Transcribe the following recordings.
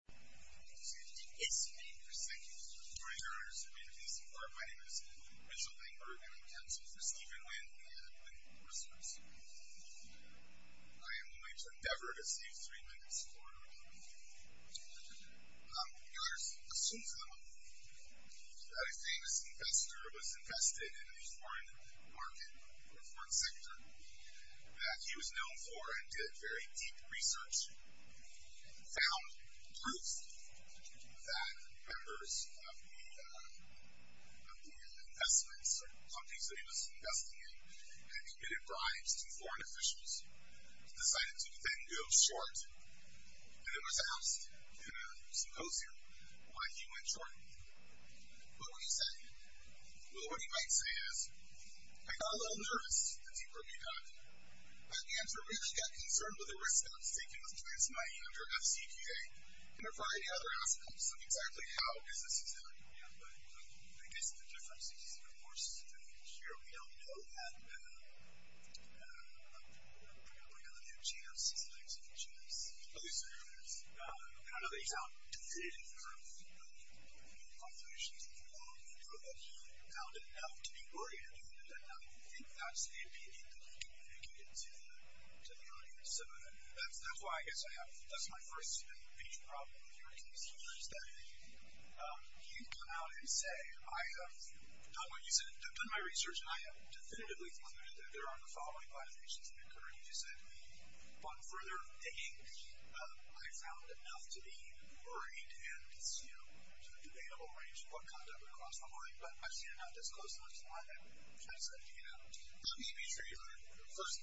It's great to see you. Thank you for joining us. My name is Richard Langberg and I'm counsel for Stephen Wynn, and I'm going to endorse him as CEO. I am going to endeavor to save three minutes for the rest of the talk. I'm going to assume for the moment that a famous investor was invested in a foreign market or a foreign sector that he was known for and did very deep research and found proof that members of the investments or companies that he was investing in had committed bribes to foreign officials, decided to then go short, and then was asked in a symposium why he went short. What would he say? Well, what he might say is, I got a little nervous, as you probably have. But the answer really got concerned with the response taken by the Finance Committee under FCQA and a variety of other aspects of exactly how businesses are doing. But I guess the difference is, of course, that here we all know and we're probably going to have a chance to see the next few years. I don't know that he found definitive proof of the contributions of foreign companies, but he found enough to be worried about the debt level. And that's the opinion that he communicated to the audience. So that's why I guess I have – that's my first major problem with hearing these stories, that you come out and say, I have done my research and I have definitively concluded that there are the following motivations that are occurring. One further thing, I found enough to be worried and to be able to arrange what conduct would cross my mind. But I've seen enough that's close enough to my head. Let me be true here. First,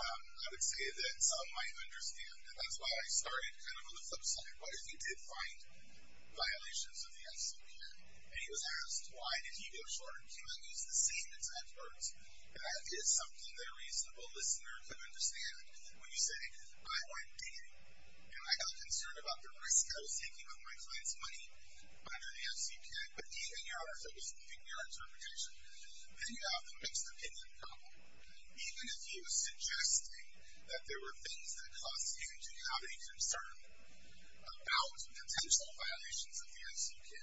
I would say that some might understand, and that's why I started kind of on the flip side. What if he did find violations of the FCQA? And he was asked, why did he go short and use the same exact words? That is something that a reasonable listener could understand. When you say, I went digging, and I felt concerned about the risk I was taking on my client's money under the FCQA. But digging out, if it was digging your interpretation, then you have a mixed opinion problem. Even if he was suggesting that there were things that caused him to have a concern about potential violations of the FCQA,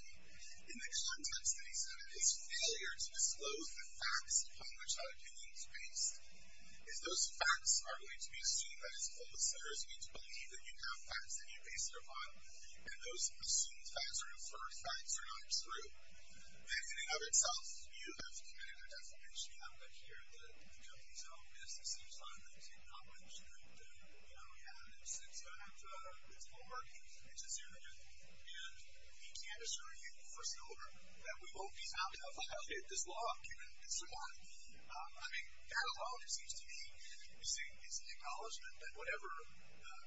in the context that he said it is failure to disclose the facts upon which that opinion was based. If those facts are going to be assumed that is false, there is a need to believe that you have facts that you base it upon, and those assumed facts are inferred facts are not true. In the opening of itself, you have committed a defamation. I'm going to hear that the company's own business seems to have a technology that we have. It's homework. It's a serendipity. And he can't assure you for silver that we won't be found to have violated this law, given it's the law. I mean, that alone, it seems to me, is an acknowledgment that whatever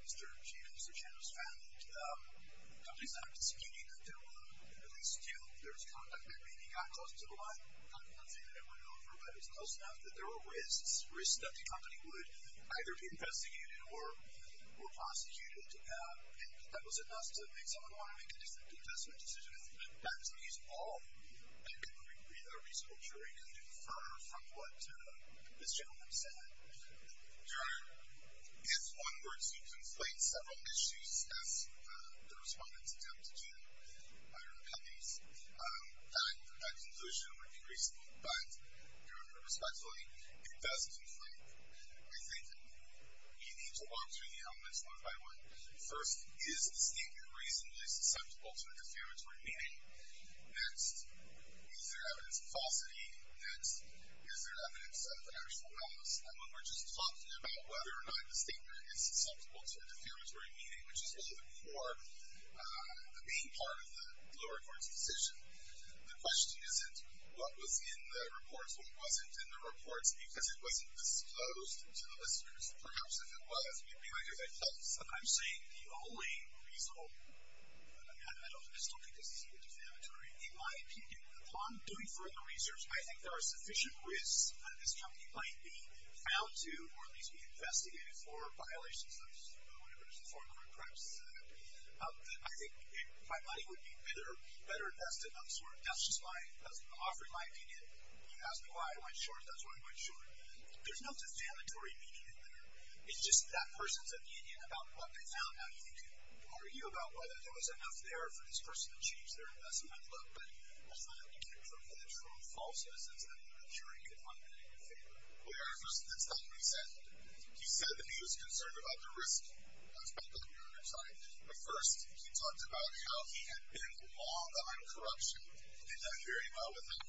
Mr. Chen has found, the company's not prosecuting that there were at least two. There was conduct that maybe got close to the line. I'm not saying that it went over, but it was close enough that there were risks. Risks that the company would either be investigated or prosecuted. And that was enough to make someone want to make a different investment decision. That is all. I think we agree that a reasonable jury can infer from what this gentleman said. If one were to conflate several issues, as the respondents attempted to by their companies, that conclusion would be reasonable. But, your Honor, respectfully, it does conflate. I think we need to walk through the elements one by one. First, is the statement reasonably susceptible to a defamatory meaning? Next, is there evidence of falsity? Next, is there evidence of actual malice? And when we're just talking about whether or not the statement is susceptible to a defamatory meaning, which is really the core, the main part of the lower court's decision, the question isn't what was in the reports, what wasn't in the reports, because it wasn't disclosed to the listeners. Perhaps if it was, it would be like if it was. I'm saying the only reasonable, and I still think this is even defamatory, in my opinion, upon doing further research, I think there are sufficient risks that this company might be found to, or at least be investigated for, violations of whatever is the form of a preface to that. I think if my money would be better invested on sort of, that's just my, offering my opinion. You ask me why I went short, that's why I went short. There's no defamatory meaning in there. It's just that person's opinion about what they found. Now, you can argue about whether there was enough there for this person to change their investment look, but we'll find out you can't prove that it's from a false instance, and I'm not sure you can find that in your favor. Well, here's what this company said. He said that he was concerned about the risk aspect of it. At first, he talked about how he had been long on corruption and done very well with that.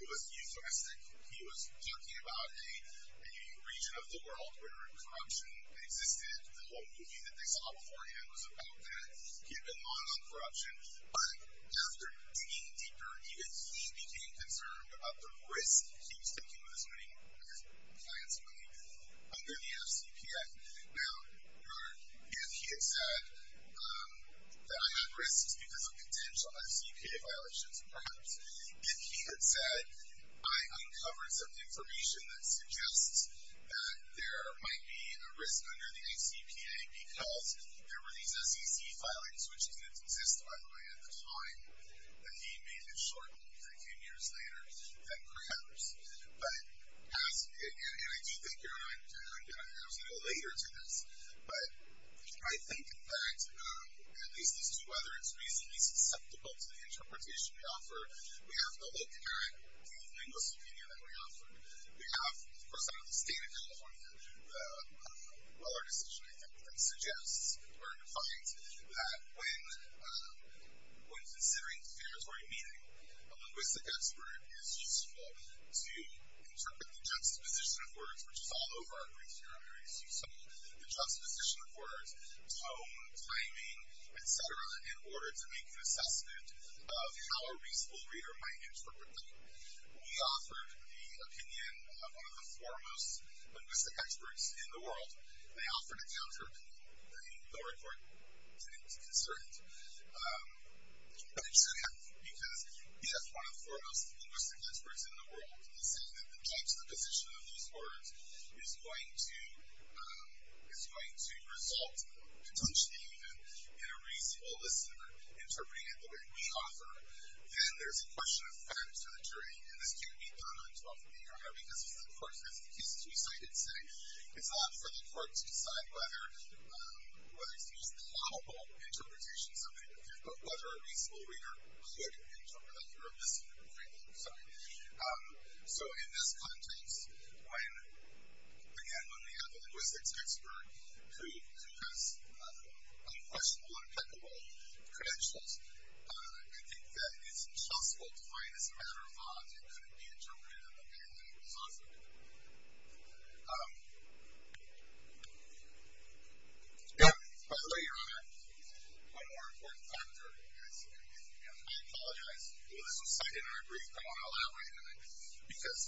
It was euphemistic. He was talking about a region of the world where corruption existed. The whole movie that they saw beforehand was about that. He had been long on corruption, but after digging deeper, even he became concerned about the risk he was taking with his money, his client's money, under the FCPA. Now, if he had said that I had risks because of potential FCPA violations, perhaps. If he had said, I uncovered some information that suggests that there might be a risk under the FCPA because there were these SEC filings, which didn't exist, by the way, at the time that he made it short. That came years later than perhaps. And I do think, you know, I'm going to have to go later to this, but I think that at least as to whether it's reasonably susceptible to the interpretation we offer, we have to look at the linguist opinion that we offer. We have, of course, out of the state of California, the Mueller decision, I think, that suggests or defines that when considering figuratory meaning, a linguistic expert is useful to interpret the juxtaposition of words, which is all over our Greek theorem areas. So, the juxtaposition of words, tone, timing, et cetera, in order to make an assessment of how a reasonable reader might interpret them. We offered the opinion of one of the foremost linguistic experts in the world. They offered a counter opinion. They didn't go to court. They didn't consider it. They should have because he is one of the foremost linguistic experts in the world. So, if we say that the juxtaposition of those words is going to result, potentially even, in a reasonable listener interpreting it the way we offer, then there's a question of fairness to the jury. And this can't be done on 12th of May, right? Because this is a court case. It's a two-sided thing. It's up for the court to decide whether it's just a palpable interpretation, something, of whether a reasonable reader could interpret it through a misinterpreting. So, in this context, when, again, when we have a linguistics expert who has unquestionable and impeccable credentials, I think that it's impossible to find as a matter of odds it couldn't be interpreted in the way that it was offered. By the way, Your Honor, one more important factor, I apologize. This was cited in our brief, but I want to elaborate on it because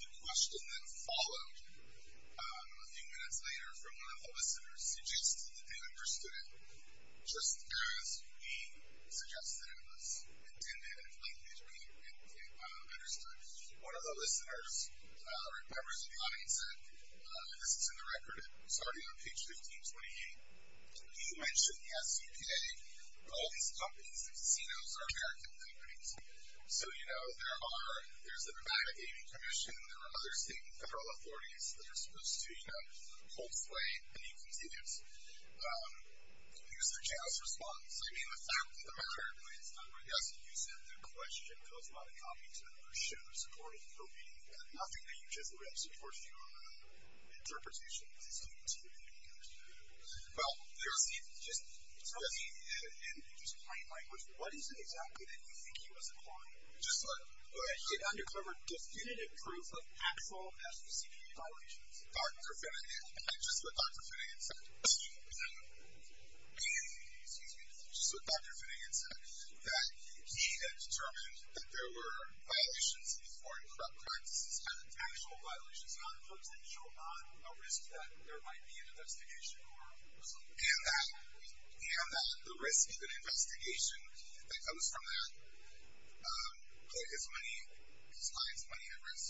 the question that followed a few minutes later from one of the listeners suggested and understood it just as we suggested it was intended, and it's likely to be understood. One of the listeners remembers a comment he said. This is in the record. It's already on page 1528. He mentioned the SEPA. All these companies and casinos are American companies. So, you know, there's the Nevada Gaming Commission. There are other state and federal authorities that are supposed to, you know, hold sway and use their chance response. So, I mean, the fact of the matter is, I guess, you said the question goes without a copy to show the support of the opinion, but nothing that you just read supports your interpretation. Does it seem too ambiguous to you? Well, there's the, just tell me, and just plain language, what is it exactly that you think he was implying? Just let him. It undercover definitive proof of actual SEPA violations. Dr. Finnegan. Just what Dr. Finnegan said. Excuse me. So, Dr. Finnegan said that he had determined that there were violations of foreign corrupt practices, actual violations, and other folks that show on a risk that there might be an investigation. And that the risk of an investigation that comes from that put his money, his client's money at risk.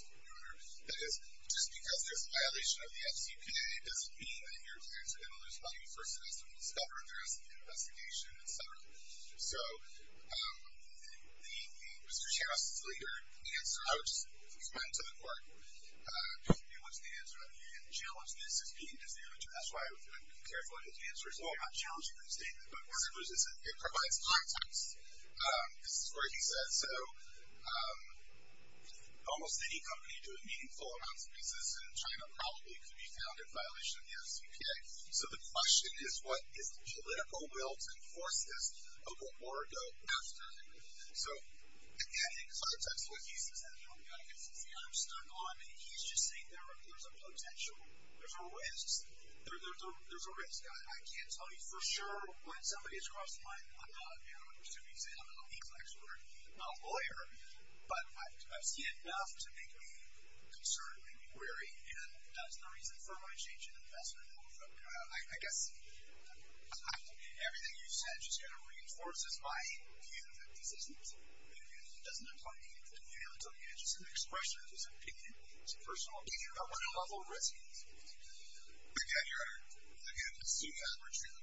That is, just because there's a violation of the SEPA doesn't mean that your clients are going to lose money. First, it has to be discovered. There has to be an investigation, et cetera. So, Mr. Chavez's later answer, I would just commend to the court, don't be able to answer that. And challenge this as being disadvantageous. That's why I would be careful in his answers. Well, I'm not challenging that statement, but it provides context. This is what he said. So, almost any company doing meaningful amounts of business in China probably could be found in violation of the SEPA. So, the question is, what is the political will to enforce this? Oh, but more ago, after. So, again, in context, what he says, and I'm stuck on it. He's just saying there's a potential. There's a risk. There's a risk. I can't tell you for sure when somebody has crossed the line. I'm not a pursuing exam. I'm not a legal expert. I'm not a lawyer. But I've seen enough to make me concerned, make me wary, and that's the reason for my change in investment. I guess everything you've said just kind of reinforces my view that this isn't an opinion. It doesn't apply to me. It's an opinion. It's an expression. It's an opinion. It's a personal opinion about what a level of risk is. But, again, you're at a good suit average here.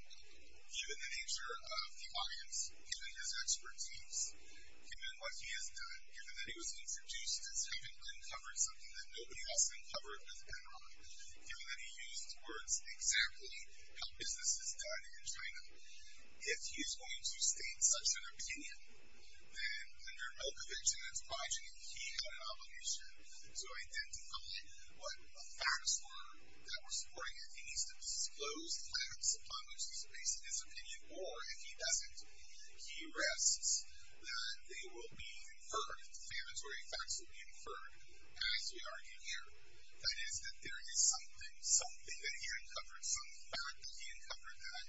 Given the nature of the audience, given his expertise, given what he has done, given that he was introduced as having uncovered something that nobody else uncovered with Benrahm, given that he used words exactly how business is done in China, if he is going to state such an opinion, then under Milkovich and his progeny, he had an obligation to identify what the facts were that were supporting it. He needs to disclose the facts upon which he's basing his opinion, or if he doesn't, he risks that they will be inferred, explanatory facts will be inferred, as we argue here. That is, that there is something, something that he uncovered, some fact that he uncovered that,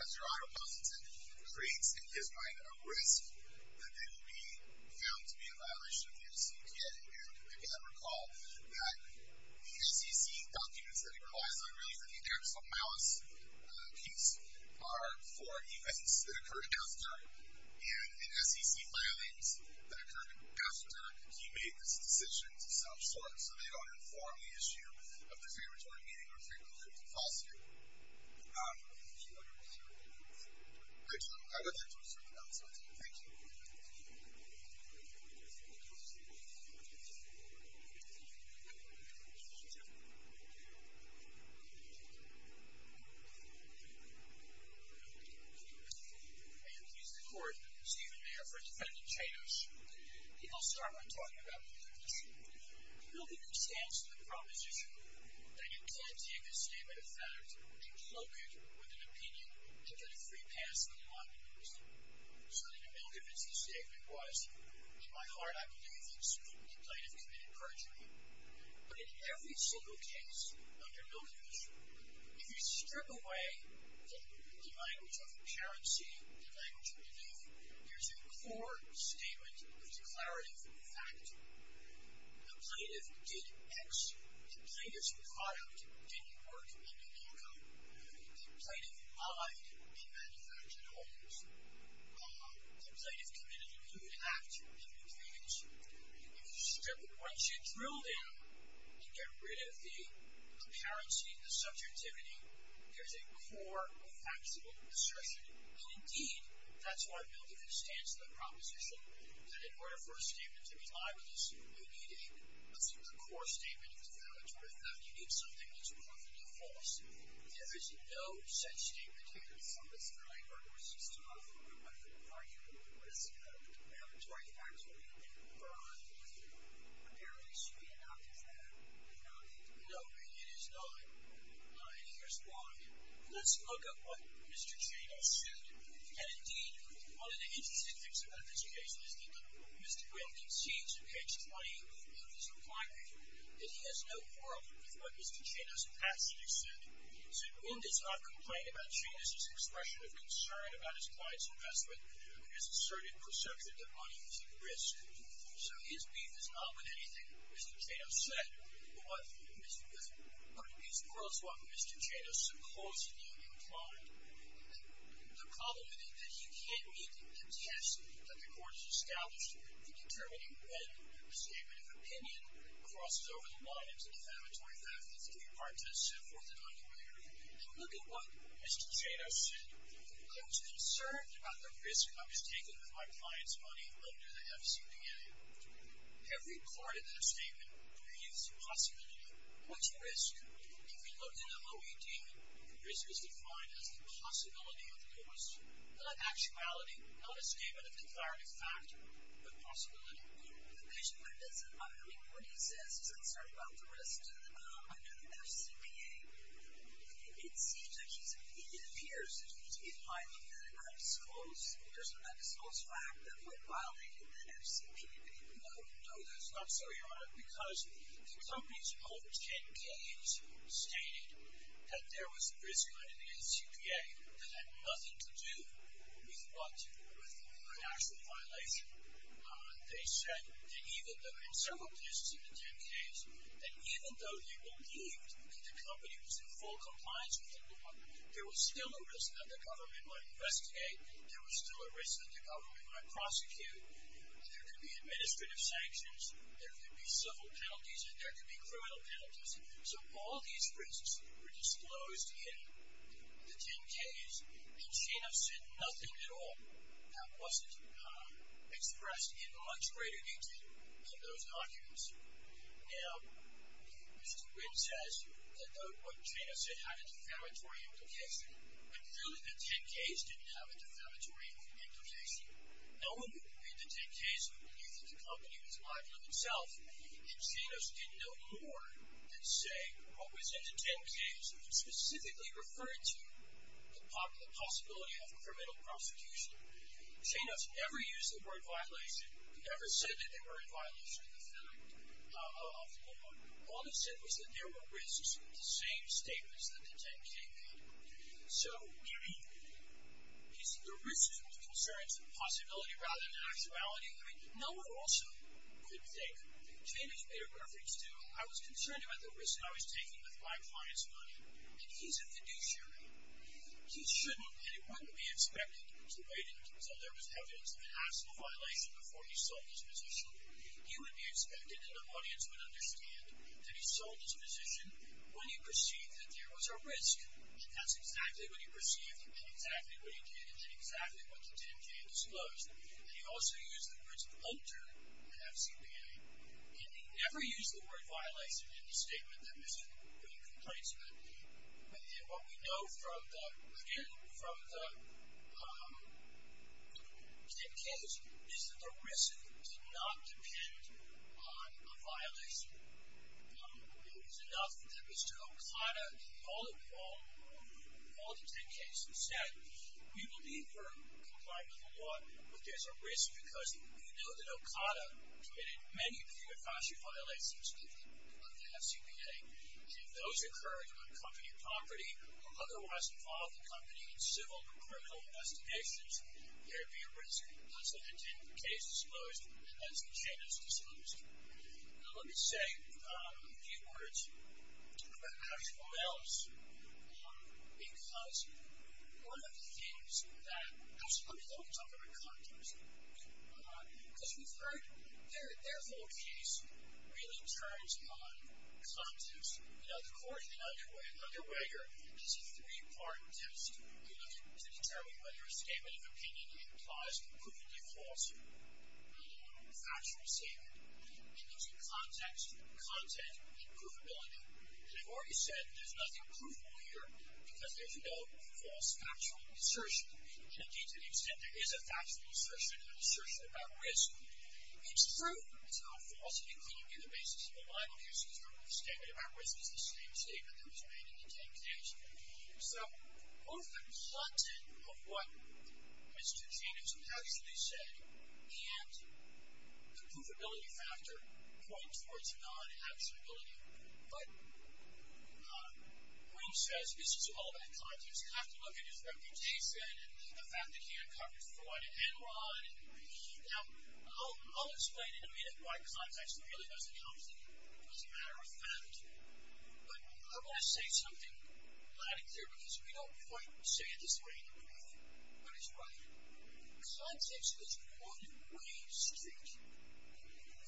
as your honor posits it, creates in his mind a risk that they will be found to be a violation of the SEC. And again, recall that the SEC documents that he relies on, particularly for the actual malice piece, are for events that occurred in Dostoyevsk, and in SEC filings that occurred in Dostoyevsk, he made this decision of some sort so they don't inform the issue of the favoritory meaning or favoritory falsehood. I don't know if you want to repeat your point. I do. I would like to restore the balance of my time. Thank you. Thank you. Thank you. Thank you. Thank you. Thank you. Thank you. Thank you. Thank you. Thank you. And he's the Court, Stephen Mayer for defendant Chaidos. He will start by talking about the proposition. Building in stance to the proposition, Danyan Katsiak has stated a fact that she was located with an opinion to get a free pass on the line proposal. So the amalgam of this statement was, in my heart I believe that the plaintiff committed perjury. But in every single case under amalgamism, if you strip away the language of concurrency, the language of belief, there's a core statement of declarative fact. The plaintiff did X. The plaintiff's product didn't work under the law code. The plaintiff lied in manufacturing orders. The plaintiff committed a new act and new things. Once you drill down and get rid of the apparency and the subjectivity, there's a core factual assertion. And, indeed, that's what building in stance to the proposition, that in order for a statement to be libelous, you need a core statement of declarative fact. You need something that's proven to be false. There is no such statement here. It's on the Supreme Court Records. It's not on the court record. Are you at risk of a proclamatory factuality that apparently should be adopted? No, it is not. And here's why. Let's look at what Mr. Chaney said. And, indeed, one of the interesting things about this case is that Mr. Chaney, on page 20 of his reply paper, that he has no quarrel with what Mr. Chaney's pastor said. So, in this, I've complained about Chaney's expression of concern about his client's investment, and his asserted perception that money is at risk. So his beef is not with anything Mr. Chaney said, but with what Mr. Chaney supposedly implied. The problem is that he can't meet the test that the court has established in determining when a statement of opinion crosses over the lines of a defamatory fact that's giving part to the so-forth and onward. And look at what Mr. Chaney said. I was concerned about the risk I was taking with my client's money under the FCPA. Every part of that statement reveals a possibility. What's at risk? If we look in the OED, risk is defined as the possibility of a cause, not actuality, not a statement of declarative fact, but a possibility. The patient might have said, I mean, what he says is, I'm sorry, about the risk under the FCPA. It seems like he's, it appears that he's, he's violating the medical school's, personal medical school's fact that we're violating the FCPA. No, no, that's not so, Your Honor, because the company's rule 10-K-2 stated that there was a risk under the FCPA that had nothing to do with what, with an actual violation. They said that even though, in several cases in the 10-Ks, that even though they believed that the company was in full compliance with the law, there was still a risk that the government might investigate, there was still a risk that the government might prosecute, there could be administrative sanctions, there could be civil penalties, and there could be criminal penalties. So all these risks were disclosed in the 10-Ks, and Shanoff said nothing at all. That wasn't expressed in much greater detail in those arguments. Now, Mr. Quinn says that what Shanoff said had a defamatory implication, but really the 10-Ks didn't have a defamatory implication. No one would believe the 10-Ks who believed that the company was liable in itself, and Shanoff didn't know more than say what was in the 10-Ks that specifically referred to the possibility of criminal prosecution. Shanoff never used the word violation, he never said that they were in violation of the law. All he said was that there were risks in the same statements that the 10-K made. So, you see, the risks and the concerns of possibility rather than actuality, I mean, no one also could think, Jamie's made a reference to, I was concerned about the risk I was taking with my client's money, and he's a fiduciary. He shouldn't, and it wouldn't be expected, to wait until there was evidence of an absolute violation before he sold his position. He would be expected, and the audience would understand, that he sold his position when he perceived that there was a risk. That's exactly what he perceived, he did exactly what he did, and did exactly what the 10-K disclosed. And he also used the words alter in FCBA, and he never used the word violation in the statement that Mr. O'Brien complains about. And what we know from the, again, from the 10-Ks, is that the risk did not depend on a violation. It was enough that Mr. O'Brien, all the 10-Ks who said, we believe we're complying with the law, but there's a risk because we know that OCATA committed many, many, many violations of the FCBA, and if those occurred on company property, or otherwise involved the company in civil or criminal investigations, there would be a risk, that's what the 10-Ks disclosed, and that's the 10-Ks disclosed. Now, let me say a few words about how to go else, because one of the things that, actually, let me talk a little bit about context, because we've heard their whole case really turns on context. You know, the court in Underwager has a three-part test to determine whether a statement of opinion implies proof of default. We've actually seen it. It means context, content, and proofability. And I've already said there's nothing provable here, because there's no false factual assertion. Indeed, to the extent there is a factual assertion, an assertion about risk, it's true. It's not false, and it couldn't be the basis of a libel case if the statement about risk is the same statement that was made in the 10-Ks. So, both the content of what Mr. Jacobson actually said, and the proofability factor point towards non-absolute ability. But when he says, this is all about context, you have to look at his reputation and the fact that he uncovered fraud and fraud. Now, I'll explain in a minute why context really doesn't help. It was a matter of fact. But I want to say something loud and clear, because we don't quite say it this way in the brief, but it's right. Context is one way street.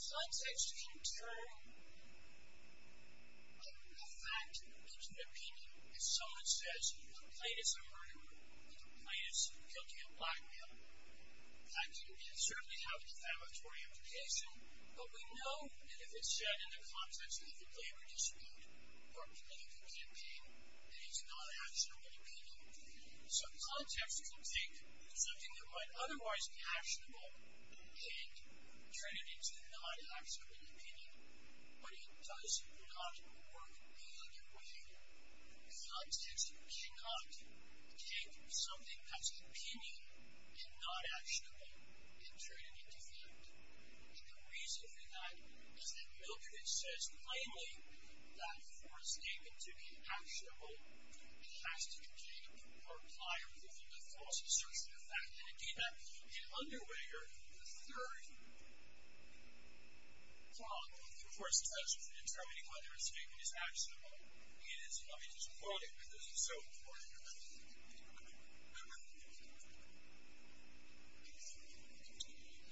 Context can turn a fact into an opinion. If someone says, complaint is a murder, complaint is guilty of blackmail, that can certainly have a defamatory implication, but we know that if it's said in the context of the labor dispute or political campaign, that it's a non-actionable opinion. So context can think of something that might otherwise be actionable and turn it into a non-actionable opinion, but it does not work the other way. Context cannot think of something that's opinion and not actionable and turn it into fact. And the reason for that is that Milton says plainly that for statement to be actionable, it has to contain or comply with a false assertion of fact. And indeed, that can be an underweighter of the third flaw of the force test in determining whether a statement is actionable. It is, let me just quote it, because it's so important.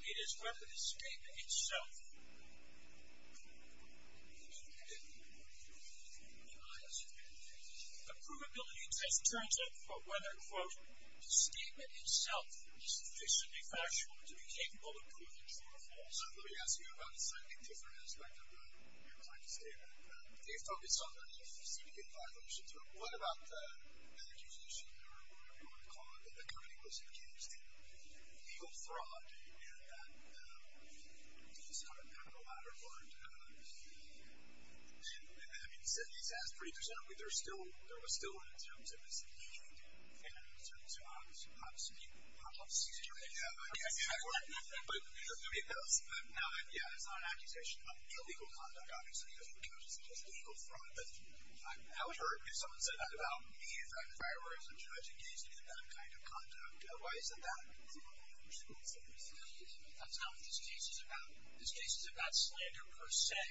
It is whether the statement itself... The provability test turns out whether, quote, the statement itself is sufficiently factual to be capable of proving true or false. Let me ask you about a slightly different aspect of what you were trying to say there. You focus on the specific violations, but what about an accusation or whatever you want to call it that the company was accused of legal fraud and that... I don't know the latter part. And, I mean, he says pretty presumptively that there was still one in terms of its need and in terms of, obviously, contractual security. But, I mean, that was... Now, yeah, that's not an accusation of illegal conduct, obviously, because it was legal fraud. I would hurt if someone said that about me if I were a judge engaged in that kind of conduct. Why is it that? That's not what this case is about. This case is about slander per se.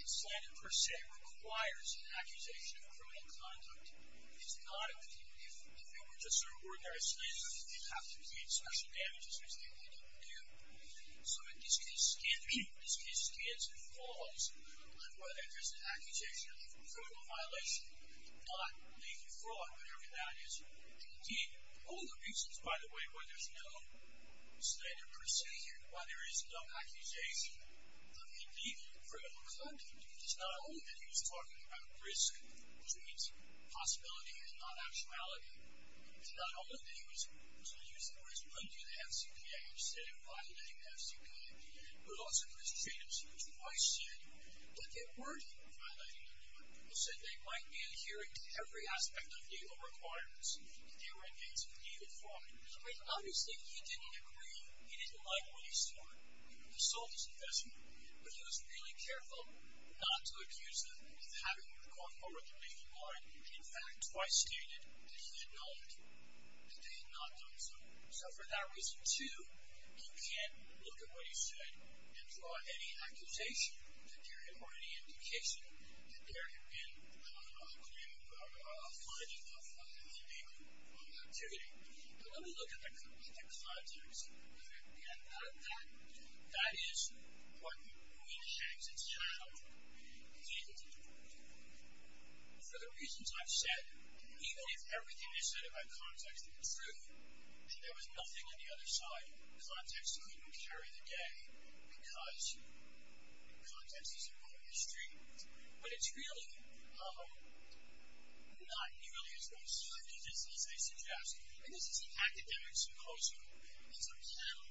And slander per se requires an accusation of criminal conduct. It's not a... If it were just an ordinary slander, you'd have to pay special damages, which they didn't do. So, in this case, this case stands and falls on whether there's an accusation of a criminal violation, not legal fraud, whatever that is. Indeed, all the reasons, by the way, why there's no slander per se here, why there is no accusation of illegal or criminal conduct is not only that he was talking about risk, which means possibility and not actuality, and not only that he was using risk under the FCPA instead of violating the FCPA, but also because Jacobson twice said that there were people violating the law. People said they might be adhering to every aspect of legal requirements if they were engaged in illegal fraud. But, obviously, he didn't agree. He didn't like what he saw. He sold his investment, but he was really careful not to accuse them of having a record for what they may have wanted. In fact, twice stated that he had known that they had not done so. So, for that reason, too, you can't look at what he said and draw any accusation or any indication that there had been a claim or a finding of illegal activity. But let me look at the context. And that is what really shames its channel. And for the reasons I've said, even if everything is said about context is true and there was nothing on the other side, context couldn't carry the day because context is an open district. But it's really not nearly as restrictive as they suggest. And this is an academic symposium. It's a panel.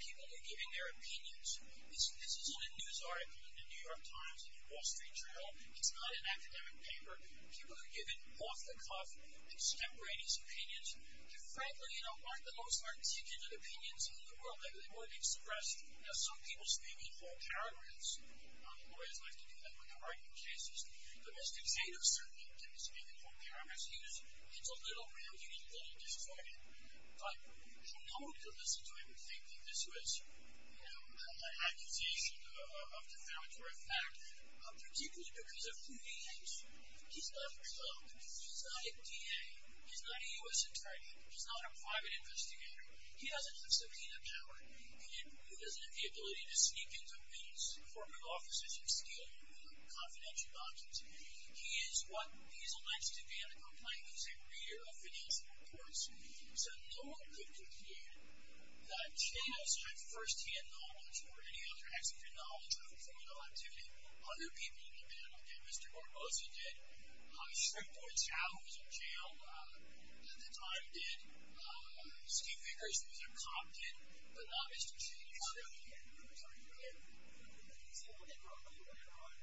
People are giving their opinions. This isn't a news article in the New York Times or the Wall Street Journal. It's not an academic paper. People are giving off-the-cuff, extemporaneous opinions that, frankly, aren't the most articulate opinions in the world. Some people speak in whole paragraphs. Lawyers like to do that when they're arguing cases. Domesticators certainly do speak in whole paragraphs. It's a little rambling and a little disappointing. But no one could listen to him thinking this was an accusation of defamatory fact, particularly because of who he is. He's not a result. He's not a DA. He's not a U.S. attorney. He's not a private investigator. He doesn't have subpoena power. And he doesn't have the ability to sneak into his corporate offices and steal confidential documents. He is what he's alleged to be on the complaint. He's a reader of financial reports. So no one could conclude that Cheney was trying to first-hand knowledge or any other executive knowledge of criminal activity. Other people in the panel did. Mr. Barbosa did. Shreveport's Chao was in jail at the time, did. Steve Vickers was a cop, did. But not Mr. Cheney. He's not a DA. He was not a DA. But he's holding on to the crime.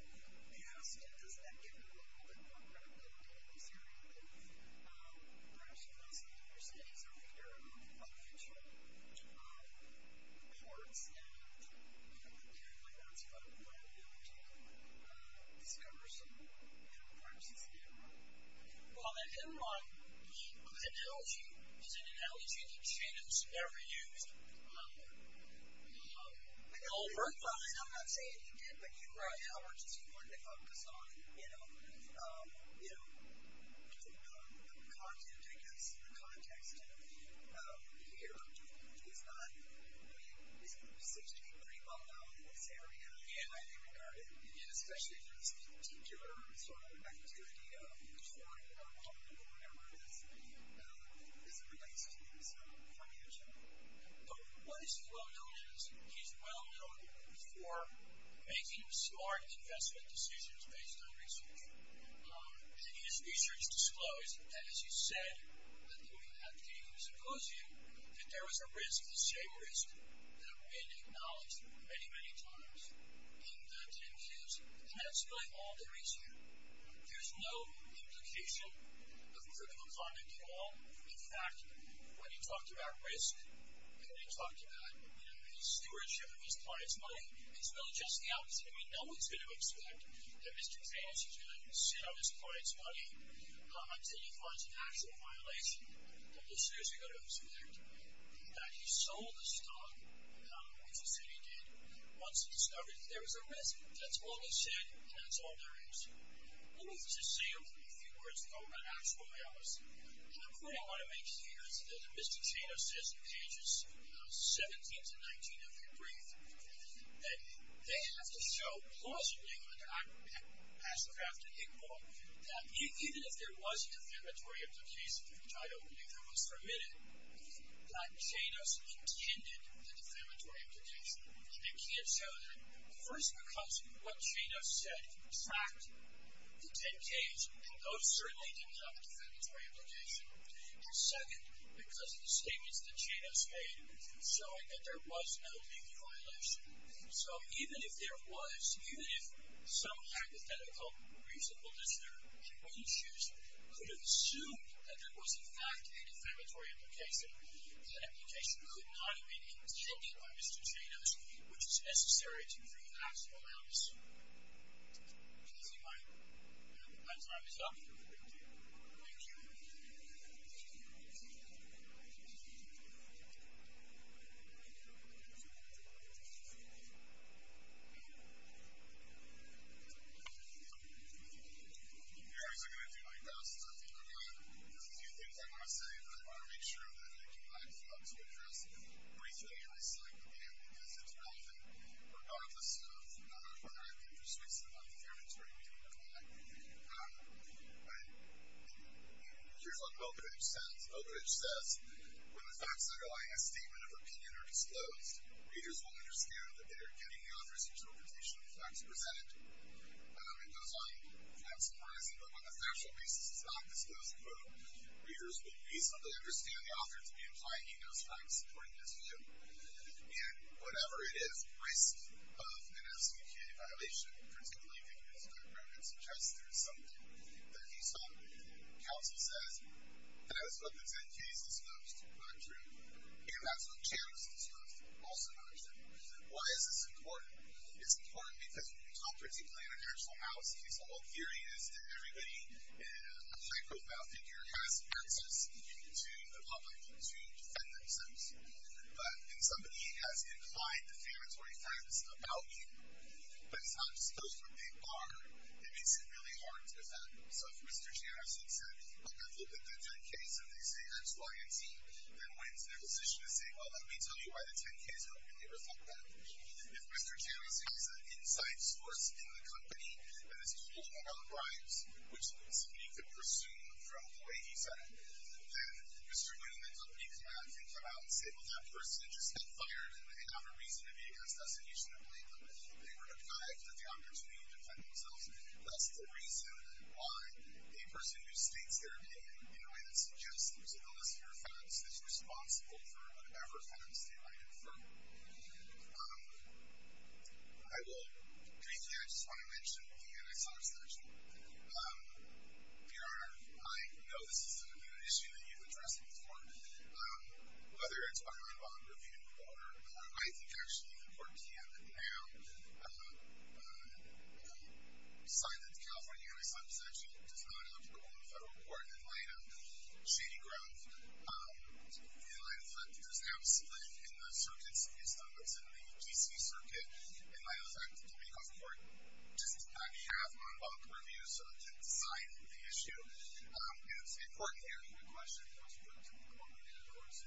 We asked, does that give him a little bit more credit than he was hearing? But perhaps you can also understand he's a reader of financial reports. And you know, apparently, that's part of why we were able to discover some of the crimes he's been involved in. Well, then, in my analogy, is it an analogy that Cheney was never used? I don't know. I'm not saying he did. But how much does he learn to focus on, you know, the content against the context? Here, he's not, I mean, he's a 63-month-old in this area. And I think regarding, especially for this particular sort of activity of distorting the content of whatever it is, is it related to his financial? What is well known is he's well known for making smart investment decisions based on research. And his research disclosed, and as you said, at the symposium, that there was a risk, the same risk, that had been acknowledged many, many times in the 10 years. And that's really all there is here. There's no implication of critical content at all. In fact, when he talked about risk, when he talked about, you know, the stewardship of his client's money, it's really just the opposite. I mean, no one's going to expect that Mr. Cheney is going to sit on his client's money until he finds an actual violation. And listeners are going to expect that he sold the stock, which he said he did, once he discovered that there was a risk. That's all he said. And that's all there is. Let me just say a few words about actual violence. And what I want to make clear is that Mr. Cheney says in pages 17 to 19 of his brief that they have to show plausibly, and I would pass the craft to Iqbal, that even if there was a defamatory implication, which I don't believe that was permitted, that Cheney intended the defamatory implication. They can't show that. First, because what Cheney has said, in fact, the 10Ks, those certainly didn't have a defamatory implication. And second, because of the statements that Cheney has made showing that there was no legal violation. So even if there was, even if some hypothetical reasonable listener wouldn't choose, could have assumed that there was, in fact, a defamatory implication, the implication could not have been intended by Mr. Cheney, which is necessary to prove actual violence. I'm closing my time is up. Thank you. Thank you. Gary's going to do his best to talk about a few things I want to say, but I want to make sure that I give my thoughts to address briefly and recite them again, because it's relevant. Regardless of whether I can just fix the defamatory implication or not. Here's what Mockridge says. Mockridge says, when the facts underlying a statement of opinion are disclosed, readers will understand that they are getting the author's interpretation of the facts presented. It goes on facts-comprising, but on the factual basis it's not disclosed. Quote, readers will reasonably understand the author to be implying he knows facts according to them. And whatever it is, there is a risk of an SBK violation, particularly if it is not proven, suggests there is something that he saw. Counsel says, and that's what the 10-Ks discussed, not true. And that's what Champs discussed, also not understood. Why is this important? It's important because, Mockridge is playing a national house. His whole theory is that everybody, a hypothetical figure, has access to the public to defend themselves. But when somebody has inclined defamatory facts about you, but it's not disclosed to a big bar, it makes it really hard to defend them. So if Mr. Janison said, look, I've looked at the 10-Ks, and they say, X, Y, and Z, then when's their position to say, well, let me tell you why the 10-Ks don't really reflect that. If Mr. Janison is an inside source in the company that is talking about bribes, which somebody could presume from the way he said it, then Mr. Winneman would be glad to come out and say, well, that person just got fired, and they have a reason to be against us, and you shouldn't blame them. They were denied the opportunity to defend themselves. That's the reason why a person who states their opinion in a way that suggests there's a list of your offense is responsible for whatever offense they might have affirmed. I will briefly, I just want to mention, again, I saw this last week. Your Honor, I know this isn't an issue that you've addressed before. Whether it's on bond review or not, I think, actually, the court can now decide that the California United States actually does not have a rule in the federal court in light of shady growth. In light of that, there's absolutely, in the circuits based on what's in the DC circuit, in light of that, the Mankoff Court just did not have on bond review, so it didn't decide the issue. It's important to answer your question, of course, you're going to the court, and of course,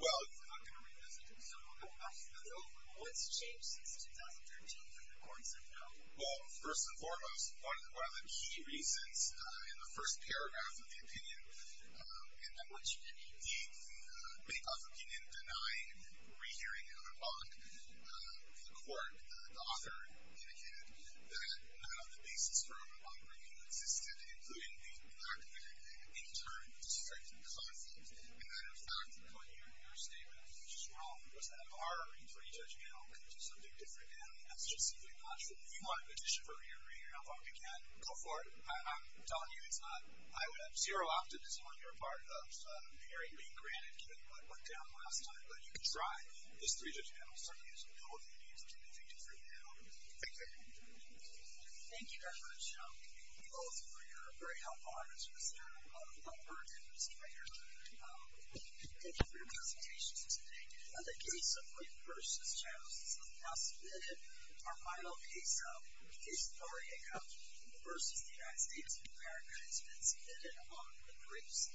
well, you're not going to revisit it, so I'll go back to that. What's changed since 2013 when the court said no? Well, first and foremost, one of the key reasons in the first paragraph of the opinion, in that much, in the Mankoff opinion, denying re-hearing of a bond, the court, the author, indicated that none of the basis for a re-bond review existed, including the fact that, in turn, it's a certain conflict, and that, in fact, the re-hearing of your statement, which is wrong, was that our re-three-judge panel came to something different, and that's just simply not true. If you want an addition for re-hearing a bond, again, go for it. I'm telling you, it's not, I would have zero optimism on your part of the hearing being granted, given what went down last time, but you can try this three-judge panel. Certainly, there's no objections, and I think it's really helpful. Thank you. Thank you very much. Thank you both for your very helpful answers, Mr. Lumberg and Mr. Rader. Thank you for your presentations today. On the case of Briggs v. Chavis, this has now been submitted. Our final case, case of R.A.C.O.U.P. v. the United States of America, has been submitted on the Briggs,